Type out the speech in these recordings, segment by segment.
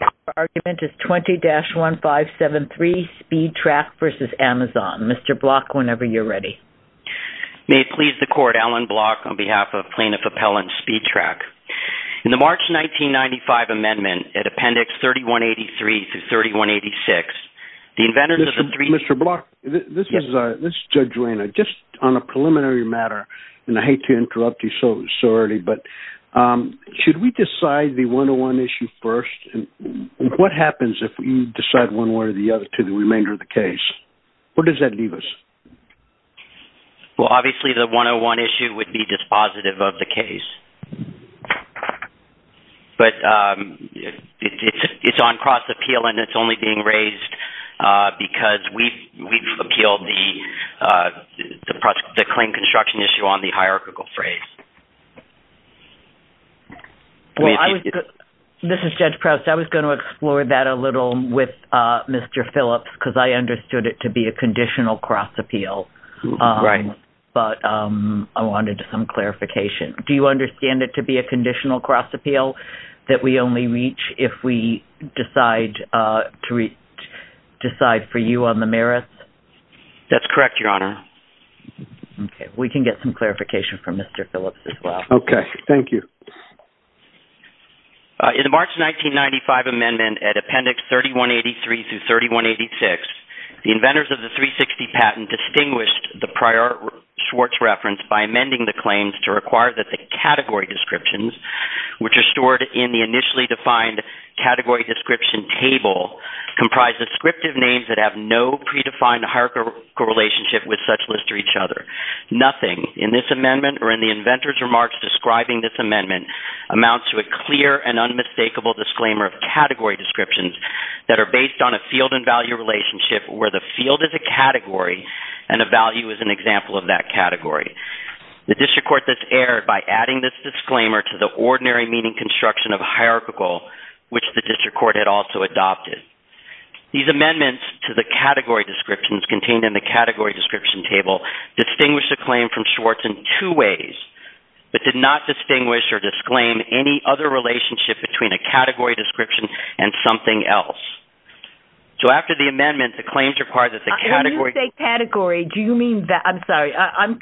Your argument is 20-1573 SpeedTrack v. Amazon. Mr. Block, whenever you're ready. May it please the Court, Alan Block on behalf of Plaintiff Appellant SpeedTrack. In the March 1995 amendment, at Appendix 3183-3186, the inventors of the three... Mr. Block, this is Judge Wainwright. Just on a preliminary matter, and I hate to interrupt you so early, but should we decide the 101 issue first? What happens if we decide one way or the other to the remainder of the case? Where does that leave us? Well, obviously the 101 issue would be dispositive of the case. But it's on cross-appeal and it's only being raised because we've appealed the claim construction issue on the hierarchical phrase. This is Judge Proust. I was going to explore that a little with Mr. Phillips because I understood it to be a conditional cross-appeal. Right. But I wanted some clarification. Do you understand it to be a conditional cross-appeal that we only reach if we decide for you on the merits? That's correct, Your Honor. Okay. We can get some clarification from Mr. Phillips as well. Okay. Thank you. In the March 1995 amendment at Appendix 3183 through 3186, the inventors of the 360 patent distinguished the prior Schwartz reference by amending the claims to require that the category descriptions, which are stored in the initially defined category description table, comprise descriptive names that have no predefined hierarchical relationship with such lists or each other. Nothing in this amendment or in the inventors' remarks describing this amendment amounts to a clear and unmistakable disclaimer of category descriptions that are based on a field and value relationship where the field is a category and a value is an example of that category. The district court has erred by adding this disclaimer to the ordinary meaning construction of hierarchical, which the district court had also adopted. These amendments to the category descriptions contained in the category description table distinguished the claim from Schwartz in two ways, but did not distinguish or disclaim any other relationship between a category description and something else. So after the amendment, the claims require that the category... When you say category, do you mean... I'm sorry. I'm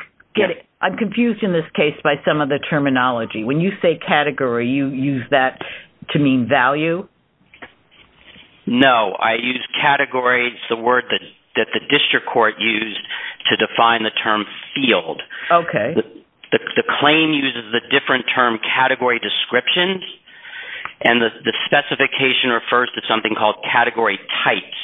confused in this case by some of the terminology. When you say category, you use that to mean value? No. I use category. Category is the word that the district court used to define the term field. The claim uses the different term category descriptions and the specification refers to something called category types.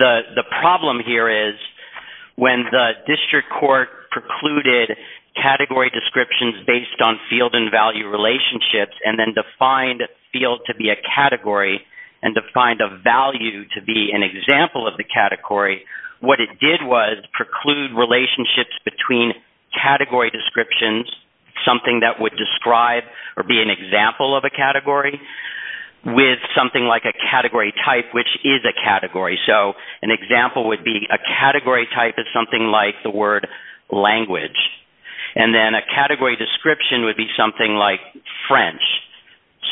The problem here is when the district court precluded category descriptions based on field and value relationships and then defined field to be a category and defined a value to be an example of the category, what it did was preclude relationships between category descriptions, something that would describe or be an example of a category, with something like a category type, which is a category. So an example would be a category type is something like the word language. And then a category description would be something like French.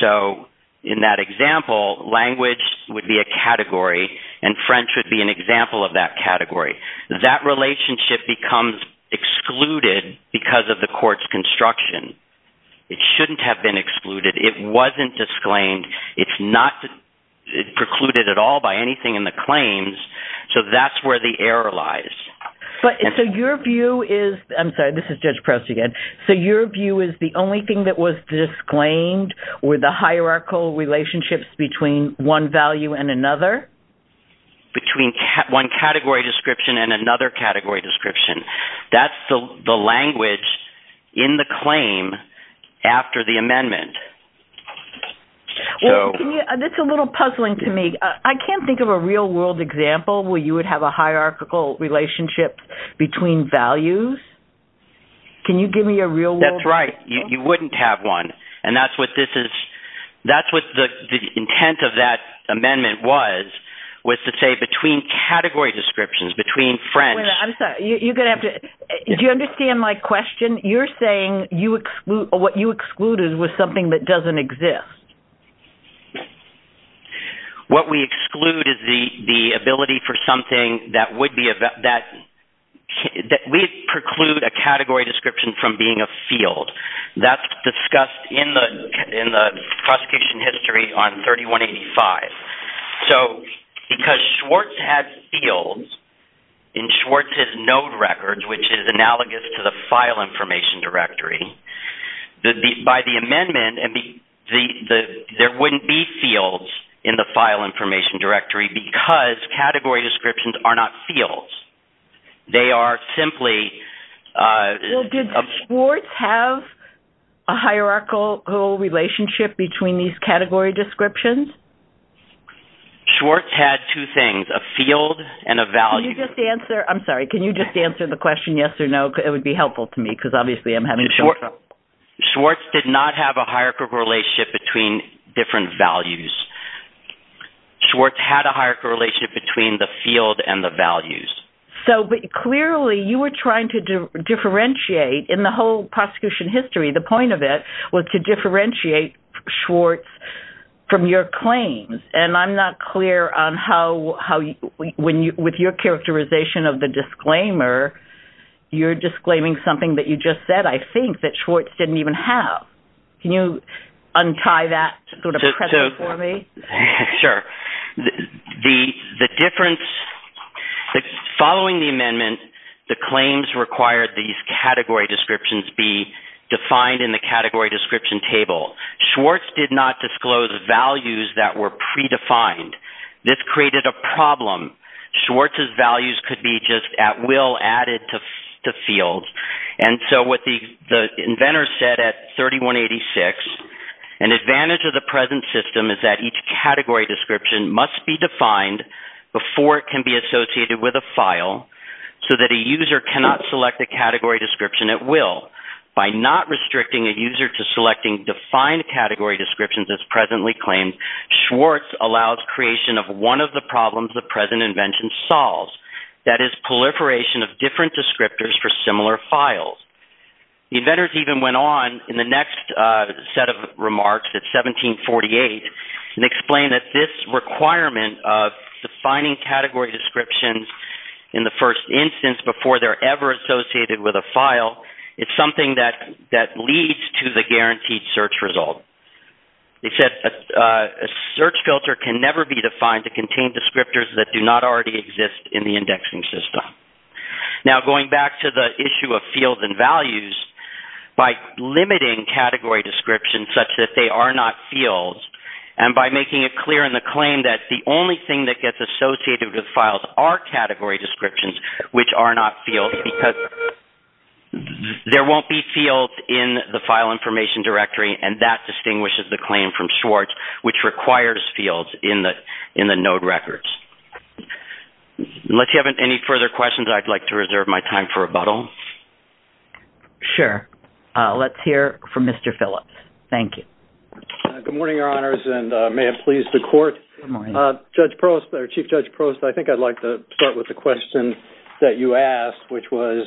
So in that example, language would be a category and French would be an example of that category. That relationship becomes excluded because of the court's construction. It shouldn't have been excluded. It wasn't disclaimed. It's not precluded at all by anything in the claims. So that's where the error lies. So your view is the only thing that was disclaimed were the hierarchical relationships between one value and another? Between one category description and another category description. That's the language in the claim after the amendment. That's a little puzzling to me. I can't think of a real-world example where you would have a hierarchical relationship between values. Can you give me a real-world example? That's right. You wouldn't have one. And that's what the intent of that amendment was, was to say between category descriptions, between French. Do you understand my question? You're saying what you excluded was something that doesn't exist. What we exclude is the ability for something that would be, that we preclude a category description from being a field. That's discussed in the prosecution history on 3185. So because Schwartz had fields in Schwartz's node records, which is analogous to the file information directory, by the amendment there wouldn't be fields in the file information directory because category descriptions are not fields. They are simply... Did Schwartz have a hierarchical relationship between these category descriptions? Schwartz had two things, a field and a value. Can you just answer the question yes or no? It would be helpful to me because obviously I'm having trouble. Schwartz did not have a hierarchical relationship between different values. Schwartz had a hierarchical relationship between the field and the values. But clearly you were trying to differentiate in the whole prosecution history. The point of it was to differentiate Schwartz from your claims. And I'm not clear on how, with your characterization of the disclaimer, you're disclaiming something that you just said, I think, that Schwartz didn't even have. Can you untie that sort of precedent for me? Sure. The difference... Following the amendment, the claims required these category descriptions be defined in the category description table. Schwartz did not disclose values that were predefined. This created a problem. Schwartz's values could be just at will added to fields. And so what the inventor said at 3186, an advantage of the present system is that each category description must be defined before it can be associated with a file so that a user cannot select a category description at will. By not restricting a user to selecting defined category descriptions as presently claimed, Schwartz allows creation of one of the problems the present invention solves, that is proliferation of different descriptors for similar files. The inventors even went on in the next set of remarks at 1748 and explained that this requirement of defining category descriptions in the first instance before they're ever associated with a file is something that leads to the guaranteed search result. They said a search filter can never be defined to contain descriptors that do not already exist in the indexing system. Now going back to the issue of fields and values, by limiting category descriptions such that they are not fields and by making it clear in the claim that the only thing that gets associated with files are category descriptions which are not fields because there won't be fields in the file information directory and that distinguishes the claim from Schwartz which requires fields in the node records. Unless you have any further questions, I'd like to reserve my time for rebuttal. Sure. Let's hear from Mr. Phillips. Thank you. Good morning, Your Honors, and may it please the Court. Good morning. Chief Judge Prost, I think I'd like to start with the question that you asked which was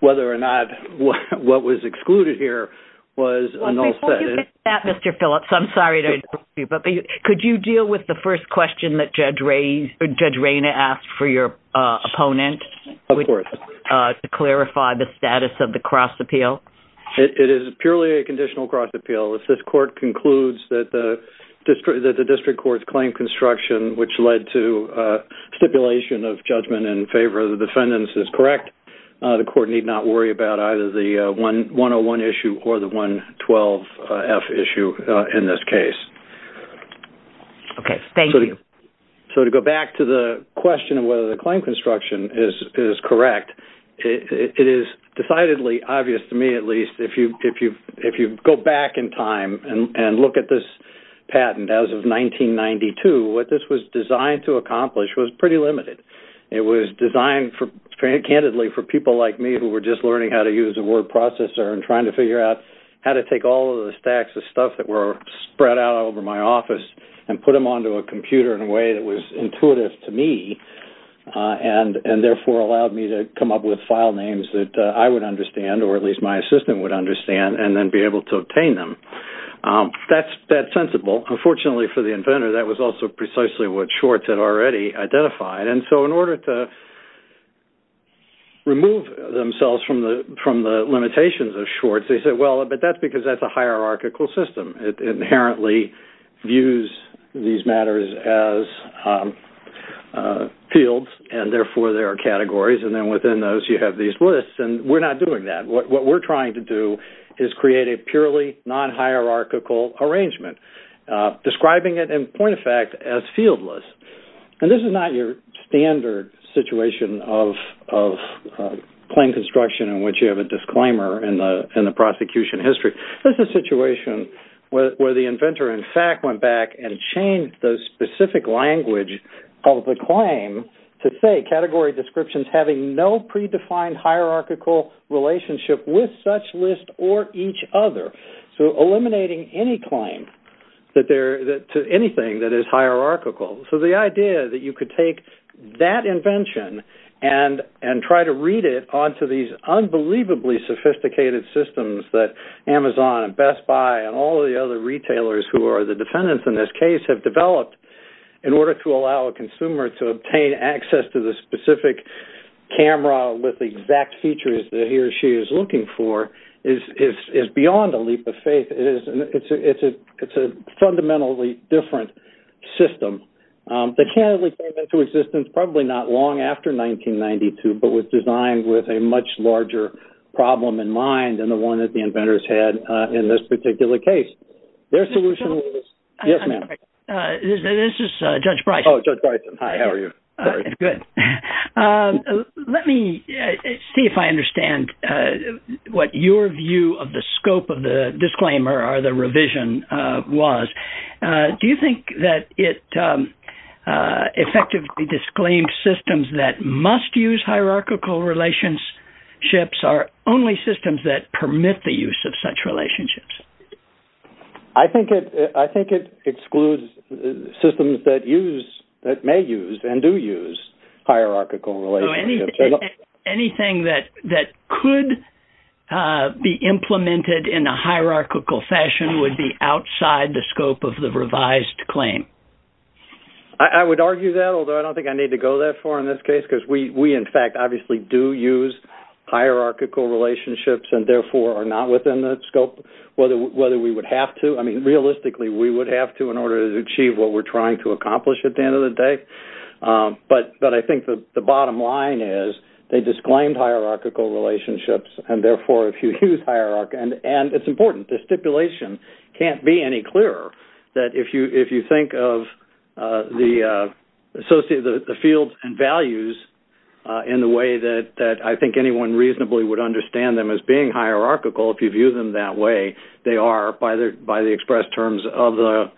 whether or not what was excluded here was a null set. Before you get to that, Mr. Phillips, I'm sorry to interrupt you, but could you deal with the first question that Judge Rayna asked for your opponent? Of course. To clarify the status of the cross appeal? It is purely a conditional cross appeal. If this Court concludes that the district court's claim construction which led to stipulation of judgment in favor of the defendants is correct, the Court need not worry about either the 101 issue or the 112F issue in this case. Okay. Thank you. So to go back to the question of whether the claim construction is correct, it is decidedly obvious to me at least if you go back in time and look at this patent as of 1992, what this was designed to accomplish was pretty limited. It was designed candidly for people like me who were just learning how to use a word processor and trying to figure out how to take all of the stacks of stuff that were spread out over my office and put them onto a computer in a way that was intuitive to me and therefore allowed me to come up with file names that I would understand or at least my assistant would understand and then be able to obtain them. That's sensible. Well, unfortunately for the inventor, that was also precisely what Schwartz had already identified. And so in order to remove themselves from the limitations of Schwartz, they said, well, but that's because that's a hierarchical system. It inherently views these matters as fields, and therefore there are categories, and then within those you have these lists, and we're not doing that. What we're trying to do is create a purely non-hierarchical arrangement, describing it in point of fact as fieldless. And this is not your standard situation of claim construction in which you have a disclaimer in the prosecution history. This is a situation where the inventor in fact went back and changed the specific language of the claim to say category descriptions having no predefined hierarchical relationship with such list or each other, so eliminating any claim to anything that is hierarchical. So the idea that you could take that invention and try to read it onto these unbelievably sophisticated systems that Amazon and Best Buy and all the other retailers who are the defendants in this case have developed in order to allow a consumer to obtain access to the specific camera with the exact features that he or she is looking for is beyond a leap of faith. It's a fundamentally different system that came into existence probably not long after 1992, but was designed with a much larger problem in mind than the one that the inventors had in this particular case. Their solution was… Yes, ma'am. This is Judge Bryson. Oh, Judge Bryson. Hi, how are you? Good. Let me see if I understand what your view of the scope of the disclaimer or the revision was. Do you think that it effectively disclaimed systems that must use hierarchical relationships are only systems that permit the use of such relationships? I think it excludes systems that may use and do use hierarchical relationships. Anything that could be implemented in a hierarchical fashion would be outside the scope of the revised claim. I would argue that, although I don't think I need to go that far in this case because we, in fact, obviously do use hierarchical relationships and, therefore, are not within the scope whether we would have to. I mean, realistically, we would have to in order to achieve what we're trying to accomplish at the end of the day. But I think the bottom line is they disclaimed hierarchical relationships and, therefore, if you use hierarchy… And it's important, the stipulation can't be any clearer that if you think of the fields and values in the way that I think anyone reasonably would understand them as being hierarchical, if you view them that way, they are, by the express terms of the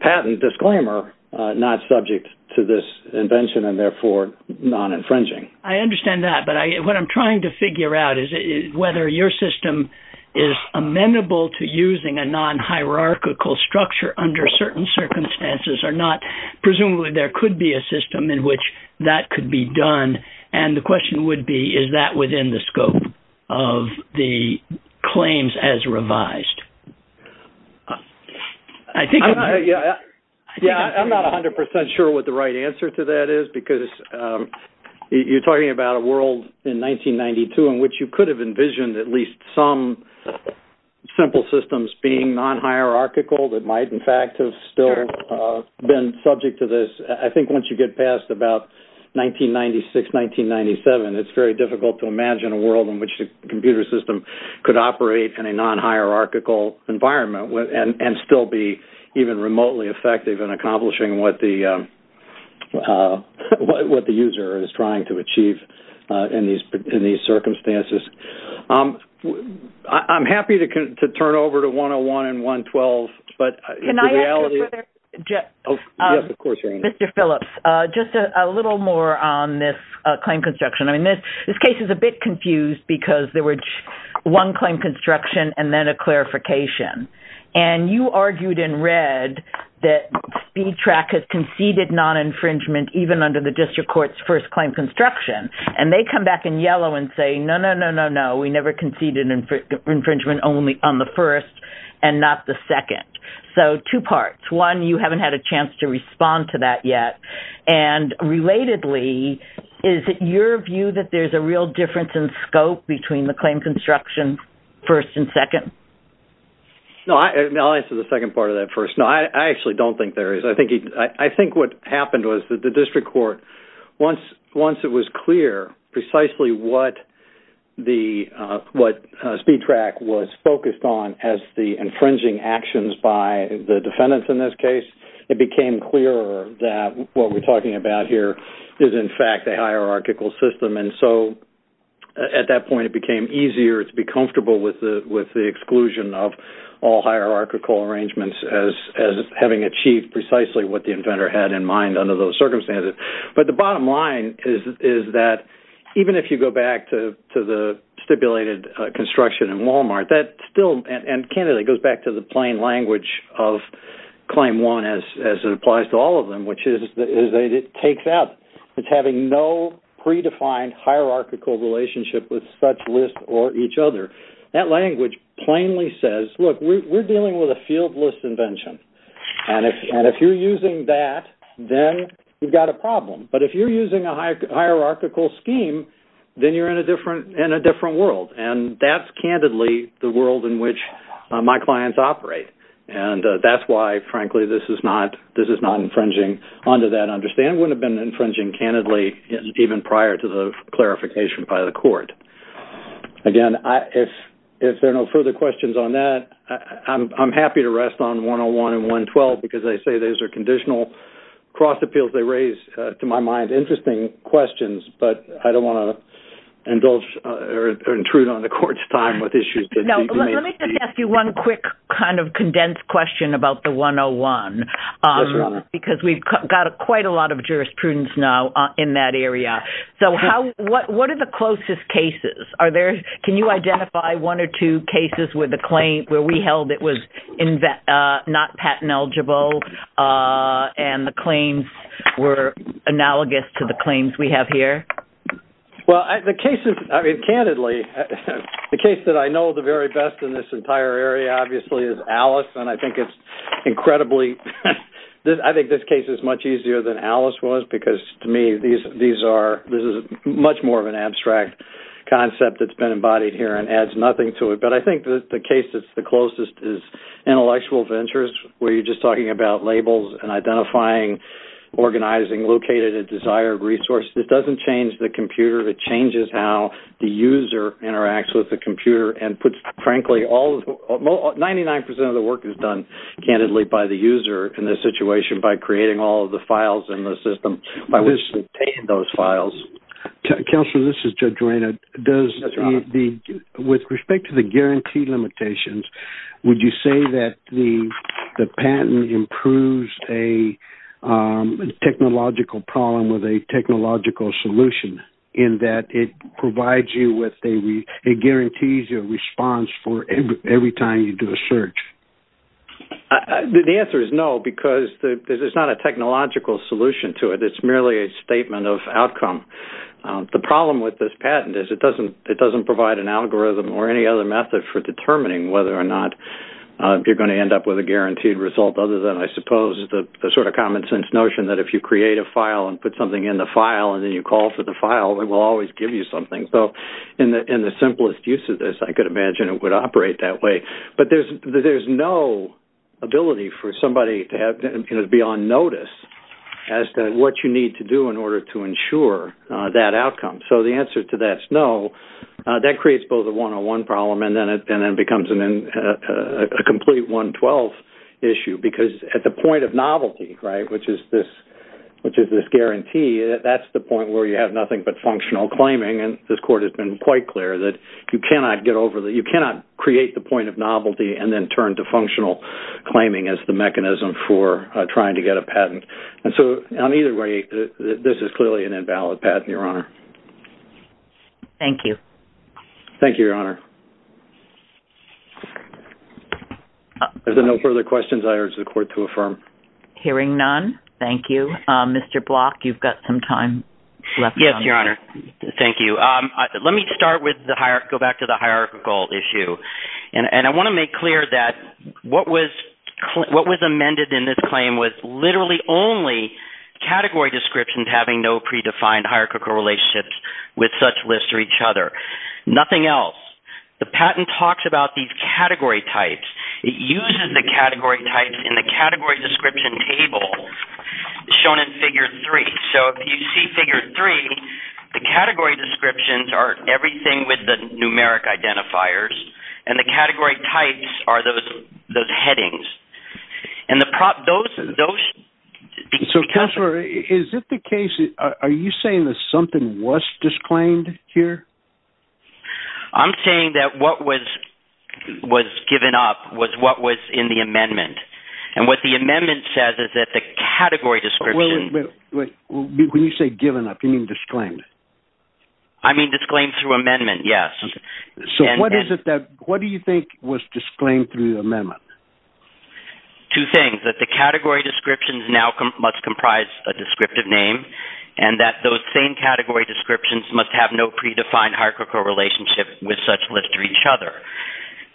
patent disclaimer, not subject to this invention and, therefore, non-infringing. I understand that, but what I'm trying to figure out is whether your system is amenable to using a non-hierarchical structure under certain circumstances or not. Presumably, there could be a system in which that could be done, and the question would be is that within the scope of the claims as revised. I'm not 100% sure what the right answer to that is because you're talking about a world in 1992 in which you could have envisioned at least some simple systems being non-hierarchical that might, in fact, have still been subject to this. I think once you get past about 1996, 1997, it's very difficult to imagine a world in which a computer system could operate in a non-hierarchical environment and still be even remotely effective in accomplishing what the user is trying to achieve in these circumstances. I'm happy to turn over to 101 and 112, but the reality is... Can I ask a further question? Yes, of course. Mr. Phillips, just a little more on this claim construction. This case is a bit confused because there was one claim construction and then a clarification, and you argued in red that SpeedTrack has conceded non-infringement even under the district court's first claim construction, and they come back in yellow and say, no, no, no, no, no, we never conceded infringement only on the first and not the second. So two parts. One, you haven't had a chance to respond to that yet, and relatedly, is it your view that there's a real difference in scope between the claim construction first and second? No, I'll answer the second part of that first. No, I actually don't think there is. I think what happened was that the district court, once it was clear precisely what SpeedTrack was focused on as the infringing actions by the defendants in this case, it became clearer that what we're talking about here is, in fact, a hierarchical system. And so at that point it became easier to be comfortable with the exclusion of all hierarchical arrangements as having achieved precisely what the inventor had in mind under those circumstances. But the bottom line is that even if you go back to the stipulated construction in Walmart, that still, and candidly goes back to the plain language of Claim 1 as it applies to all of them, which is that it takes out, it's having no predefined hierarchical relationship with such lists or each other. That language plainly says, look, we're dealing with a field list invention, and if you're using that, then you've got a problem. But if you're using a hierarchical scheme, then you're in a different world, and that's candidly the world in which my clients operate. And that's why, frankly, this is not infringing onto that understanding. It wouldn't have been infringing, candidly, even prior to the clarification by the court. Again, if there are no further questions on that, I'm happy to rest on 101 and 112, because I say those are conditional cross appeals they raise, to my mind, interesting questions. But I don't want to indulge or intrude on the court's time with issues. Let me just ask you one quick kind of condensed question about the 101, because we've got quite a lot of jurisprudence now in that area. So what are the closest cases? Can you identify one or two cases where we held it was not patent eligible and the claims were analogous to the claims we have here? Well, the case is, I mean, candidly, the case that I know the very best in this entire area, obviously, is Alice, and I think it's incredibly – I think this case is much easier than Alice was, because to me these are – this is much more of an abstract concept that's been embodied here and adds nothing to it. But I think the case that's the closest is intellectual ventures, where you're just talking about labels and identifying, organizing, locating a desired resource. This doesn't change the computer. It changes how the user interacts with the computer and puts, frankly, 99% of the work is done, candidly, by the user in this situation by creating all of the files in the system by which they obtain those files. Counselor, this is Judge Reina. With respect to the guarantee limitations, would you say that the patent improves a technological problem with a technological solution in that it provides you with a – it guarantees your response for every time you do a search? The answer is no, because there's not a technological solution to it. It's merely a statement of outcome. The problem with this patent is it doesn't provide an algorithm or any other method for determining whether or not you're going to end up with a guaranteed result other than, I suppose, the sort of common sense notion that if you create a file and put something in the file and then you call for the file, it will always give you something. So in the simplest use of this, I could imagine it would operate that way. But there's no ability for somebody to be on notice as to what you need to do in order to ensure that outcome. So the answer to that is no. That creates both a 101 problem and then becomes a complete 112 issue because at the point of novelty, right, which is this guarantee, that's the point where you have nothing but functional claiming, and this Court has been quite clear that you cannot get over the – you cannot create the point of novelty and then turn to functional claiming as the mechanism for trying to get a patent. And so on either way, this is clearly an invalid patent, Your Honor. Thank you. Thank you, Your Honor. Are there no further questions I urge the Court to affirm? Hearing none, thank you. Mr. Block, you've got some time left. Yes, Your Honor. Thank you. Let me start with the – go back to the hierarchical issue. And I want to make clear that what was amended in this claim was literally only category descriptions having no predefined hierarchical relationships with such lists or each other, nothing else. The patent talks about these category types. It uses the category types in the category description table shown in Figure 3. So if you see Figure 3, the category descriptions are everything with the numeric identifiers, and the category types are those headings. And those – So, Counselor, is it the case – are you saying that something was disclaimed here? I'm saying that what was given up was what was in the amendment. And what the amendment says is that the category description – Wait, when you say given up, you mean disclaimed? I mean disclaimed through amendment, yes. So what is it that – what do you think was disclaimed through the amendment? Two things, that the category descriptions now must comprise a descriptive name and that those same category descriptions must have no predefined hierarchical relationship with such lists or each other.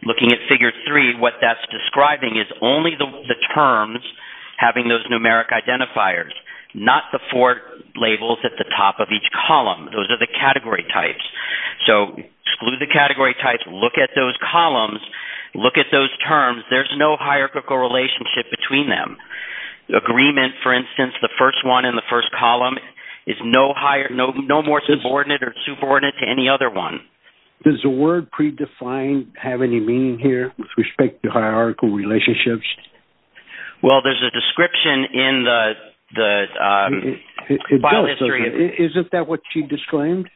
Looking at Figure 3, what that's describing is only the terms having those numeric identifiers, not the four labels at the top of each column. Those are the category types. So exclude the category types, look at those columns, look at those terms. There's no hierarchical relationship between them. Agreement, for instance, the first one in the first column, is no more subordinate or subordinate to any other one. Does the word predefined have any meaning here with respect to hierarchical relationships? Well, there's a description in the file history. Isn't that what she disclaimed,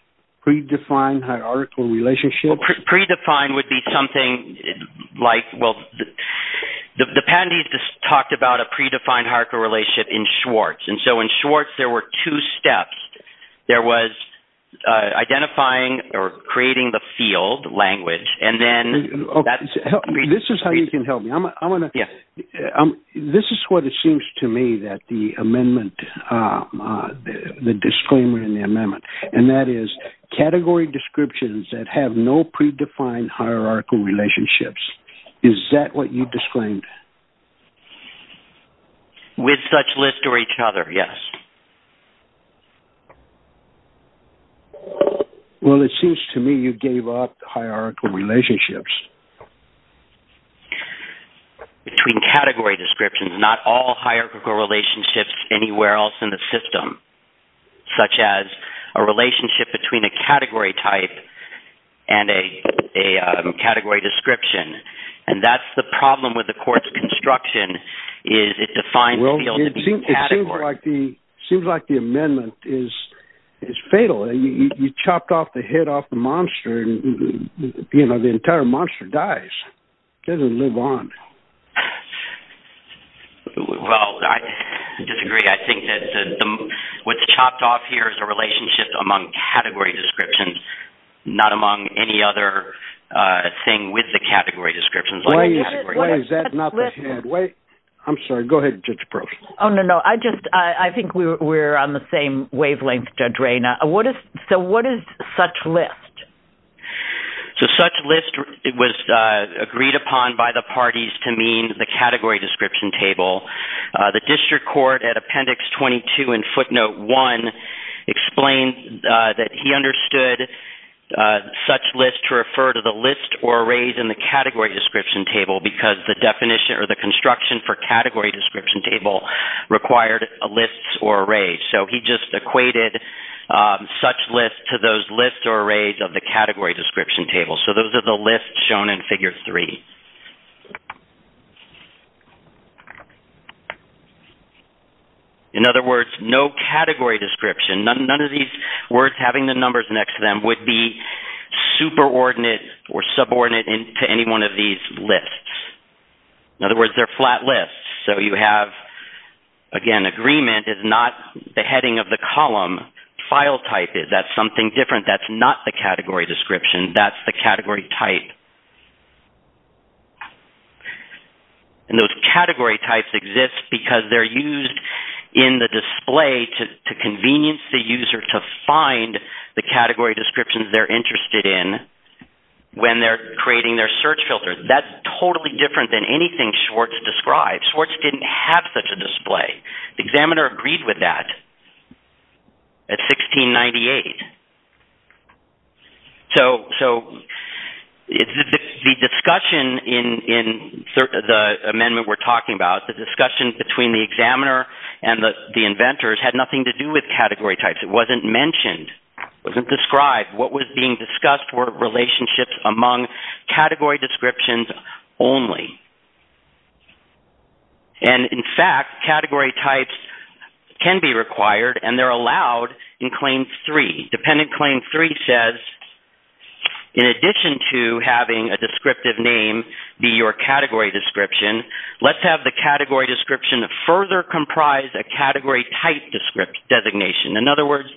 predefined hierarchical relationship? Predefined would be something like – well, the patentee just talked about a predefined hierarchical relationship in Schwartz, and so in Schwartz there were two steps. There was identifying or creating the field language, and then that's – This is how you can help me. This is what it seems to me that the disclaimer in the amendment, and that is category descriptions that have no predefined hierarchical relationships. Is that what you disclaimed? With such list or each other, yes. Well, it seems to me you gave up hierarchical relationships. Between category descriptions, not all hierarchical relationships anywhere else in the system, such as a relationship between a category type and a category description, and that's the problem with the court's construction, is it defines the field category. It seems like the amendment is fatal. You chopped off the head off the monster, and the entire monster dies. It doesn't live on. Well, I disagree. I think that what's chopped off here is a relationship among category descriptions, not among any other thing with the category descriptions. Why is that not the head? I'm sorry. Go ahead, Judge Gross. Oh, no, no. I think we're on the same wavelength, Judge Ray. So what is such list? So such list was agreed upon by the parties to mean the category description table. The district court at Appendix 22 and Footnote 1 explained that he understood such list to refer to the list or arrays in the category description table because the construction for category description table required lists or arrays. So he just equated such list to those lists or arrays of the category description table. So those are the lists shown in Figure 3. In other words, no category description, none of these words having the numbers next to them, would be superordinate or subordinate to any one of these lists. In other words, they're flat lists. So you have, again, agreement is not the heading of the column. File type is. That's something different. That's not the category description. That's the category type. And those category types exist because they're used in the display to convenience the user to find the category descriptions they're interested in when they're creating their search filter. That's totally different than anything Schwartz described. Schwartz didn't have such a display. The examiner agreed with that at 1698. So the discussion in the amendment we're talking about, the discussion between the examiner and the inventors had nothing to do with category types. It wasn't mentioned. It wasn't described. What was being discussed were relationships among category descriptions only. And, in fact, category types can be required and they're allowed in Claim 3. Dependent Claim 3 says, in addition to having a descriptive name be your category description, let's have the category description further comprise a category type designation. In other words,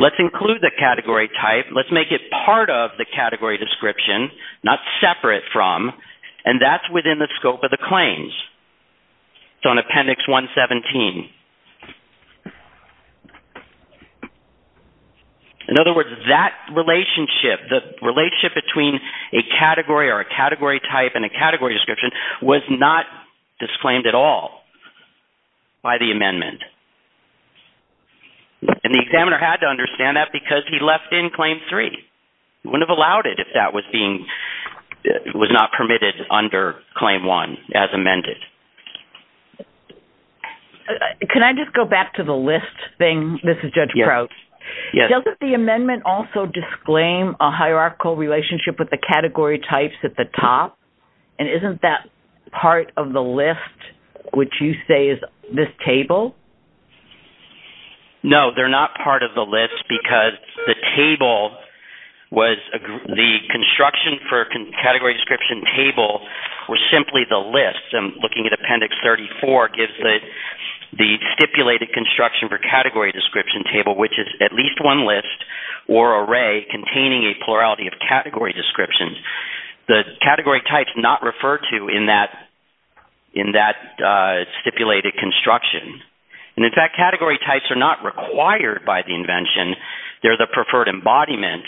let's include the category type, let's make it part of the category description, not separate from, and that's within the scope of the claims. It's on Appendix 117. In other words, that relationship, the relationship between a category or a category type and a category description was not disclaimed at all by the amendment. And the examiner had to understand that because he left in Claim 3. He wouldn't have allowed it if that was not permitted under Claim 1 as amended. Can I just go back to the list thing? This is Judge Crouch. Yes. Doesn't the amendment also disclaim a hierarchical relationship with the category types at the top? And isn't that part of the list, which you say is this table? No, they're not part of the list because the table was the construction for category description table was simply the list. And looking at Appendix 34 gives the stipulated construction for category description table, which is at least one list or array containing a plurality of category descriptions. The category types not referred to in that stipulated construction. And, in fact, category types are not required by the invention. They're the preferred embodiment.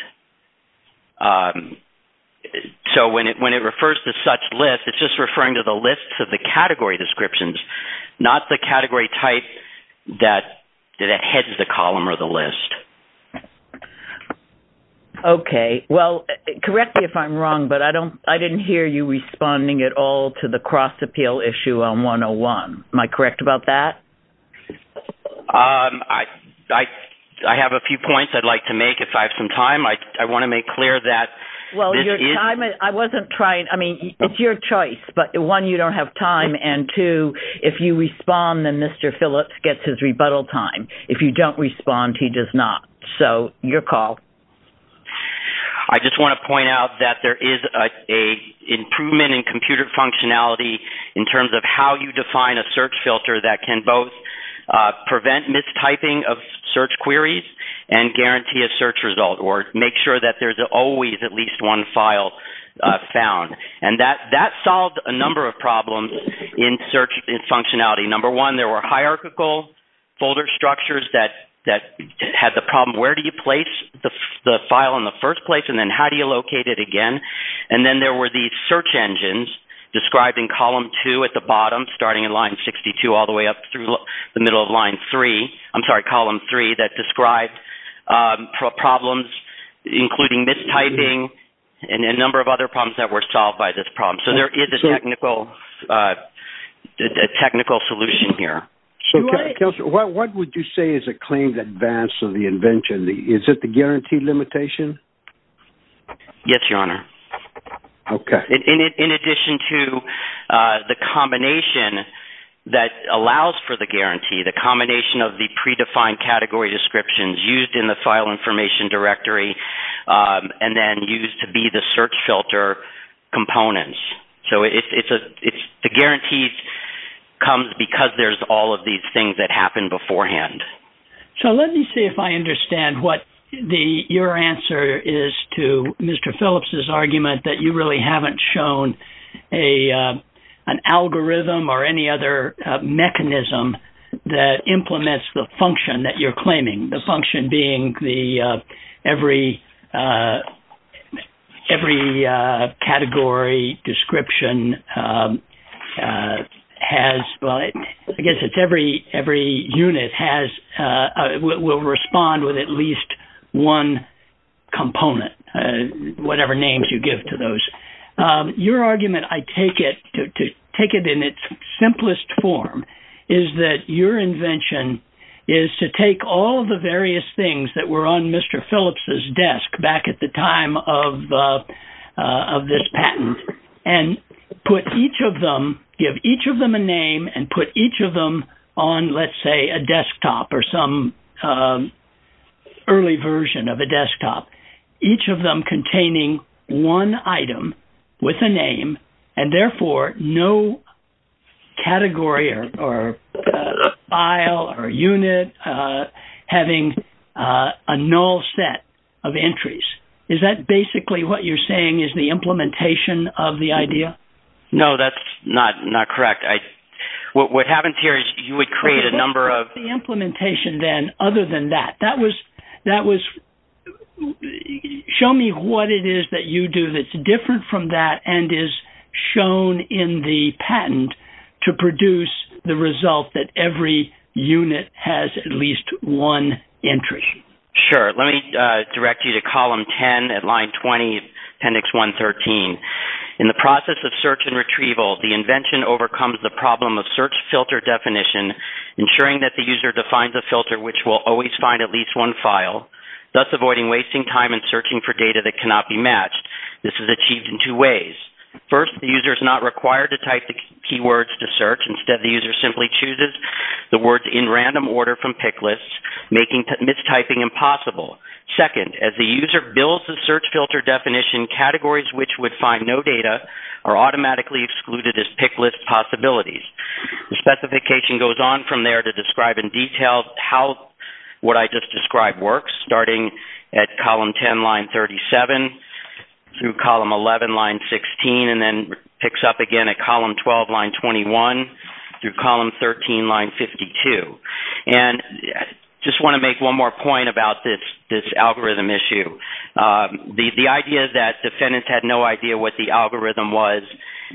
So when it refers to such lists, it's just referring to the lists of the category descriptions, not the category type that heads the column or the list. Okay. Well, correct me if I'm wrong, but I didn't hear you responding at all to the cross-appeal issue on 101. Am I correct about that? I have a few points I'd like to make if I have some time. I want to make clear that this is – Well, your time – I wasn't trying – I mean, it's your choice. But, one, you don't have time, and, two, if you respond, then Mr. Phillips gets his rebuttal time. If you don't respond, he does not. So your call. I just want to point out that there is an improvement in computer functionality in terms of how you define a search filter that can both prevent mistyping of search queries and guarantee a search result or make sure that there's always at least one file found. And that solved a number of problems in search functionality. Number one, there were hierarchical folder structures that had the problem, where do you place the file in the first place, and then how do you locate it again? And then there were these search engines describing column two at the bottom, starting in line 62 all the way up through the middle of line three – I'm sorry, column three – problems including mistyping and a number of other problems that were solved by this problem. So there is a technical solution here. What would you say is a claimed advance of the invention? Is it the guarantee limitation? Yes, Your Honor. Okay. In addition to the combination that allows for the guarantee, the combination of the predefined category descriptions used in the file information directory and then used to be the search filter components. So the guarantee comes because there's all of these things that happened beforehand. So let me see if I understand what your answer is to Mr. Phillips' argument that you really haven't shown an algorithm or any other mechanism that implements the function that you're claiming, the function being every category description has – well, I guess it's every unit will respond with at least one component, whatever names you give to those. Your argument, I take it, to take it in its simplest form, is that your invention is to take all the various things that were on Mr. Phillips' desk back at the time of this patent and put each of them, give each of them a name and put each of them on, let's say, a desktop or some early version of a desktop. Each of them containing one item with a name and therefore no category or file or unit having a null set of entries. Is that basically what you're saying is the implementation of the idea? No, that's not correct. What happens here is you would create a number of – What was the implementation then other than that? That was – show me what it is that you do that's different from that and is shown in the patent to produce the result that every unit has at least one entry. Sure. Let me direct you to column 10 at line 20, appendix 113. In the process of search and retrieval, the invention overcomes the problem of search filter definition, ensuring that the user defines a filter which will always find at least one file, thus avoiding wasting time in searching for data that cannot be matched. This is achieved in two ways. First, the user is not required to type the keywords to search. Instead, the user simply chooses the words in random order from pick lists, making mistyping impossible. Second, as the user builds the search filter definition, categories which would find no data are automatically excluded as pick list possibilities. The specification goes on from there to describe in detail how what I just described works, starting at column 10, line 37, through column 11, line 16, and then picks up again at column 12, line 21, through column 13, line 52. I just want to make one more point about this algorithm issue. The idea that defendants had no idea what the algorithm was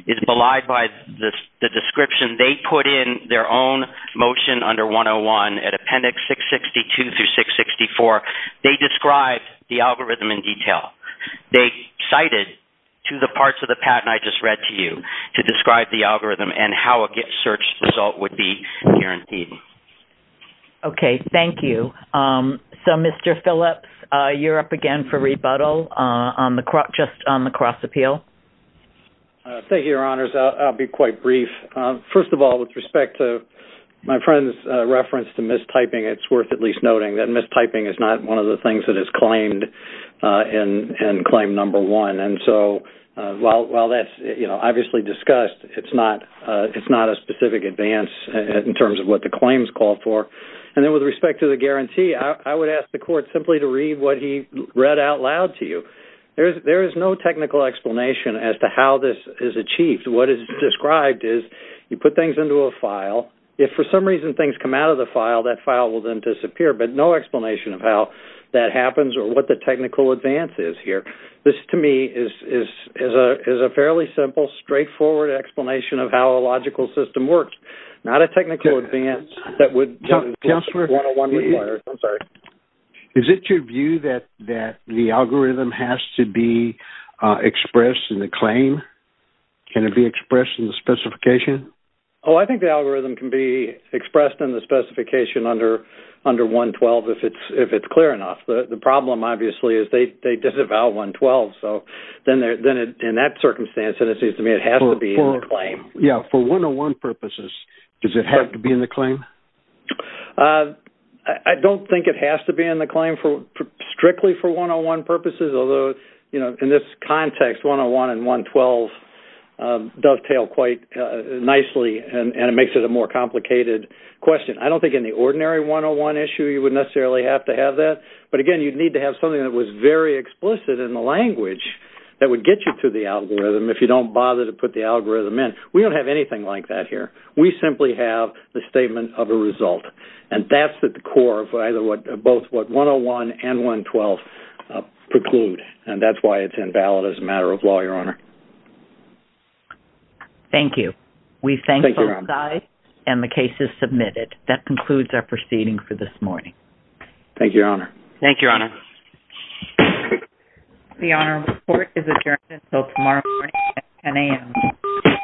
is belied by the description they put in their own motion under 101 at appendix 662 through 664. They described the algorithm in detail. They cited to the parts of the patent I just read to you to describe the algorithm and how a search result would be guaranteed. Okay. Thank you. Mr. Phillips, you're up again for rebuttal just on the cross-appeal. Thank you, Your Honors. I'll be quite brief. First of all, with respect to my friend's reference to mistyping, it's worth at least noting that mistyping is not one of the things that is claimed in claim number one. While that's obviously discussed, it's not a specific advance in terms of what the claims call for. And then with respect to the guarantee, I would ask the court simply to read what he read out loud to you. There is no technical explanation as to how this is achieved. What is described is you put things into a file. If for some reason things come out of the file, that file will then disappear, but no explanation of how that happens or what the technical advance is here. This, to me, is a fairly simple, straightforward explanation of how a logical system works, not a technical advance that would go to 101 requires. Counselor, is it your view that the algorithm has to be expressed in the claim? Can it be expressed in the specification? Oh, I think the algorithm can be expressed in the specification under 112 if it's clear enough. The problem, obviously, is they disavow 112. So then in that circumstance, it seems to me it has to be in the claim. Yeah, for 101 purposes, does it have to be in the claim? I don't think it has to be in the claim strictly for 101 purposes, although in this context 101 and 112 dovetail quite nicely, and it makes it a more complicated question. I don't think in the ordinary 101 issue you would necessarily have to have that. But, again, you'd need to have something that was very explicit in the language that would get you to the algorithm if you don't bother to put the algorithm in. We don't have anything like that here. We simply have the statement of a result, and that's at the core of both what 101 and 112 preclude, and that's why it's invalid as a matter of law, Your Honor. Thank you. We thank both sides, and the case is submitted. That concludes our proceeding for this morning. Thank you, Your Honor. Thank you, Your Honor. The Honorable Court is adjourned until tomorrow morning at 10 a.m.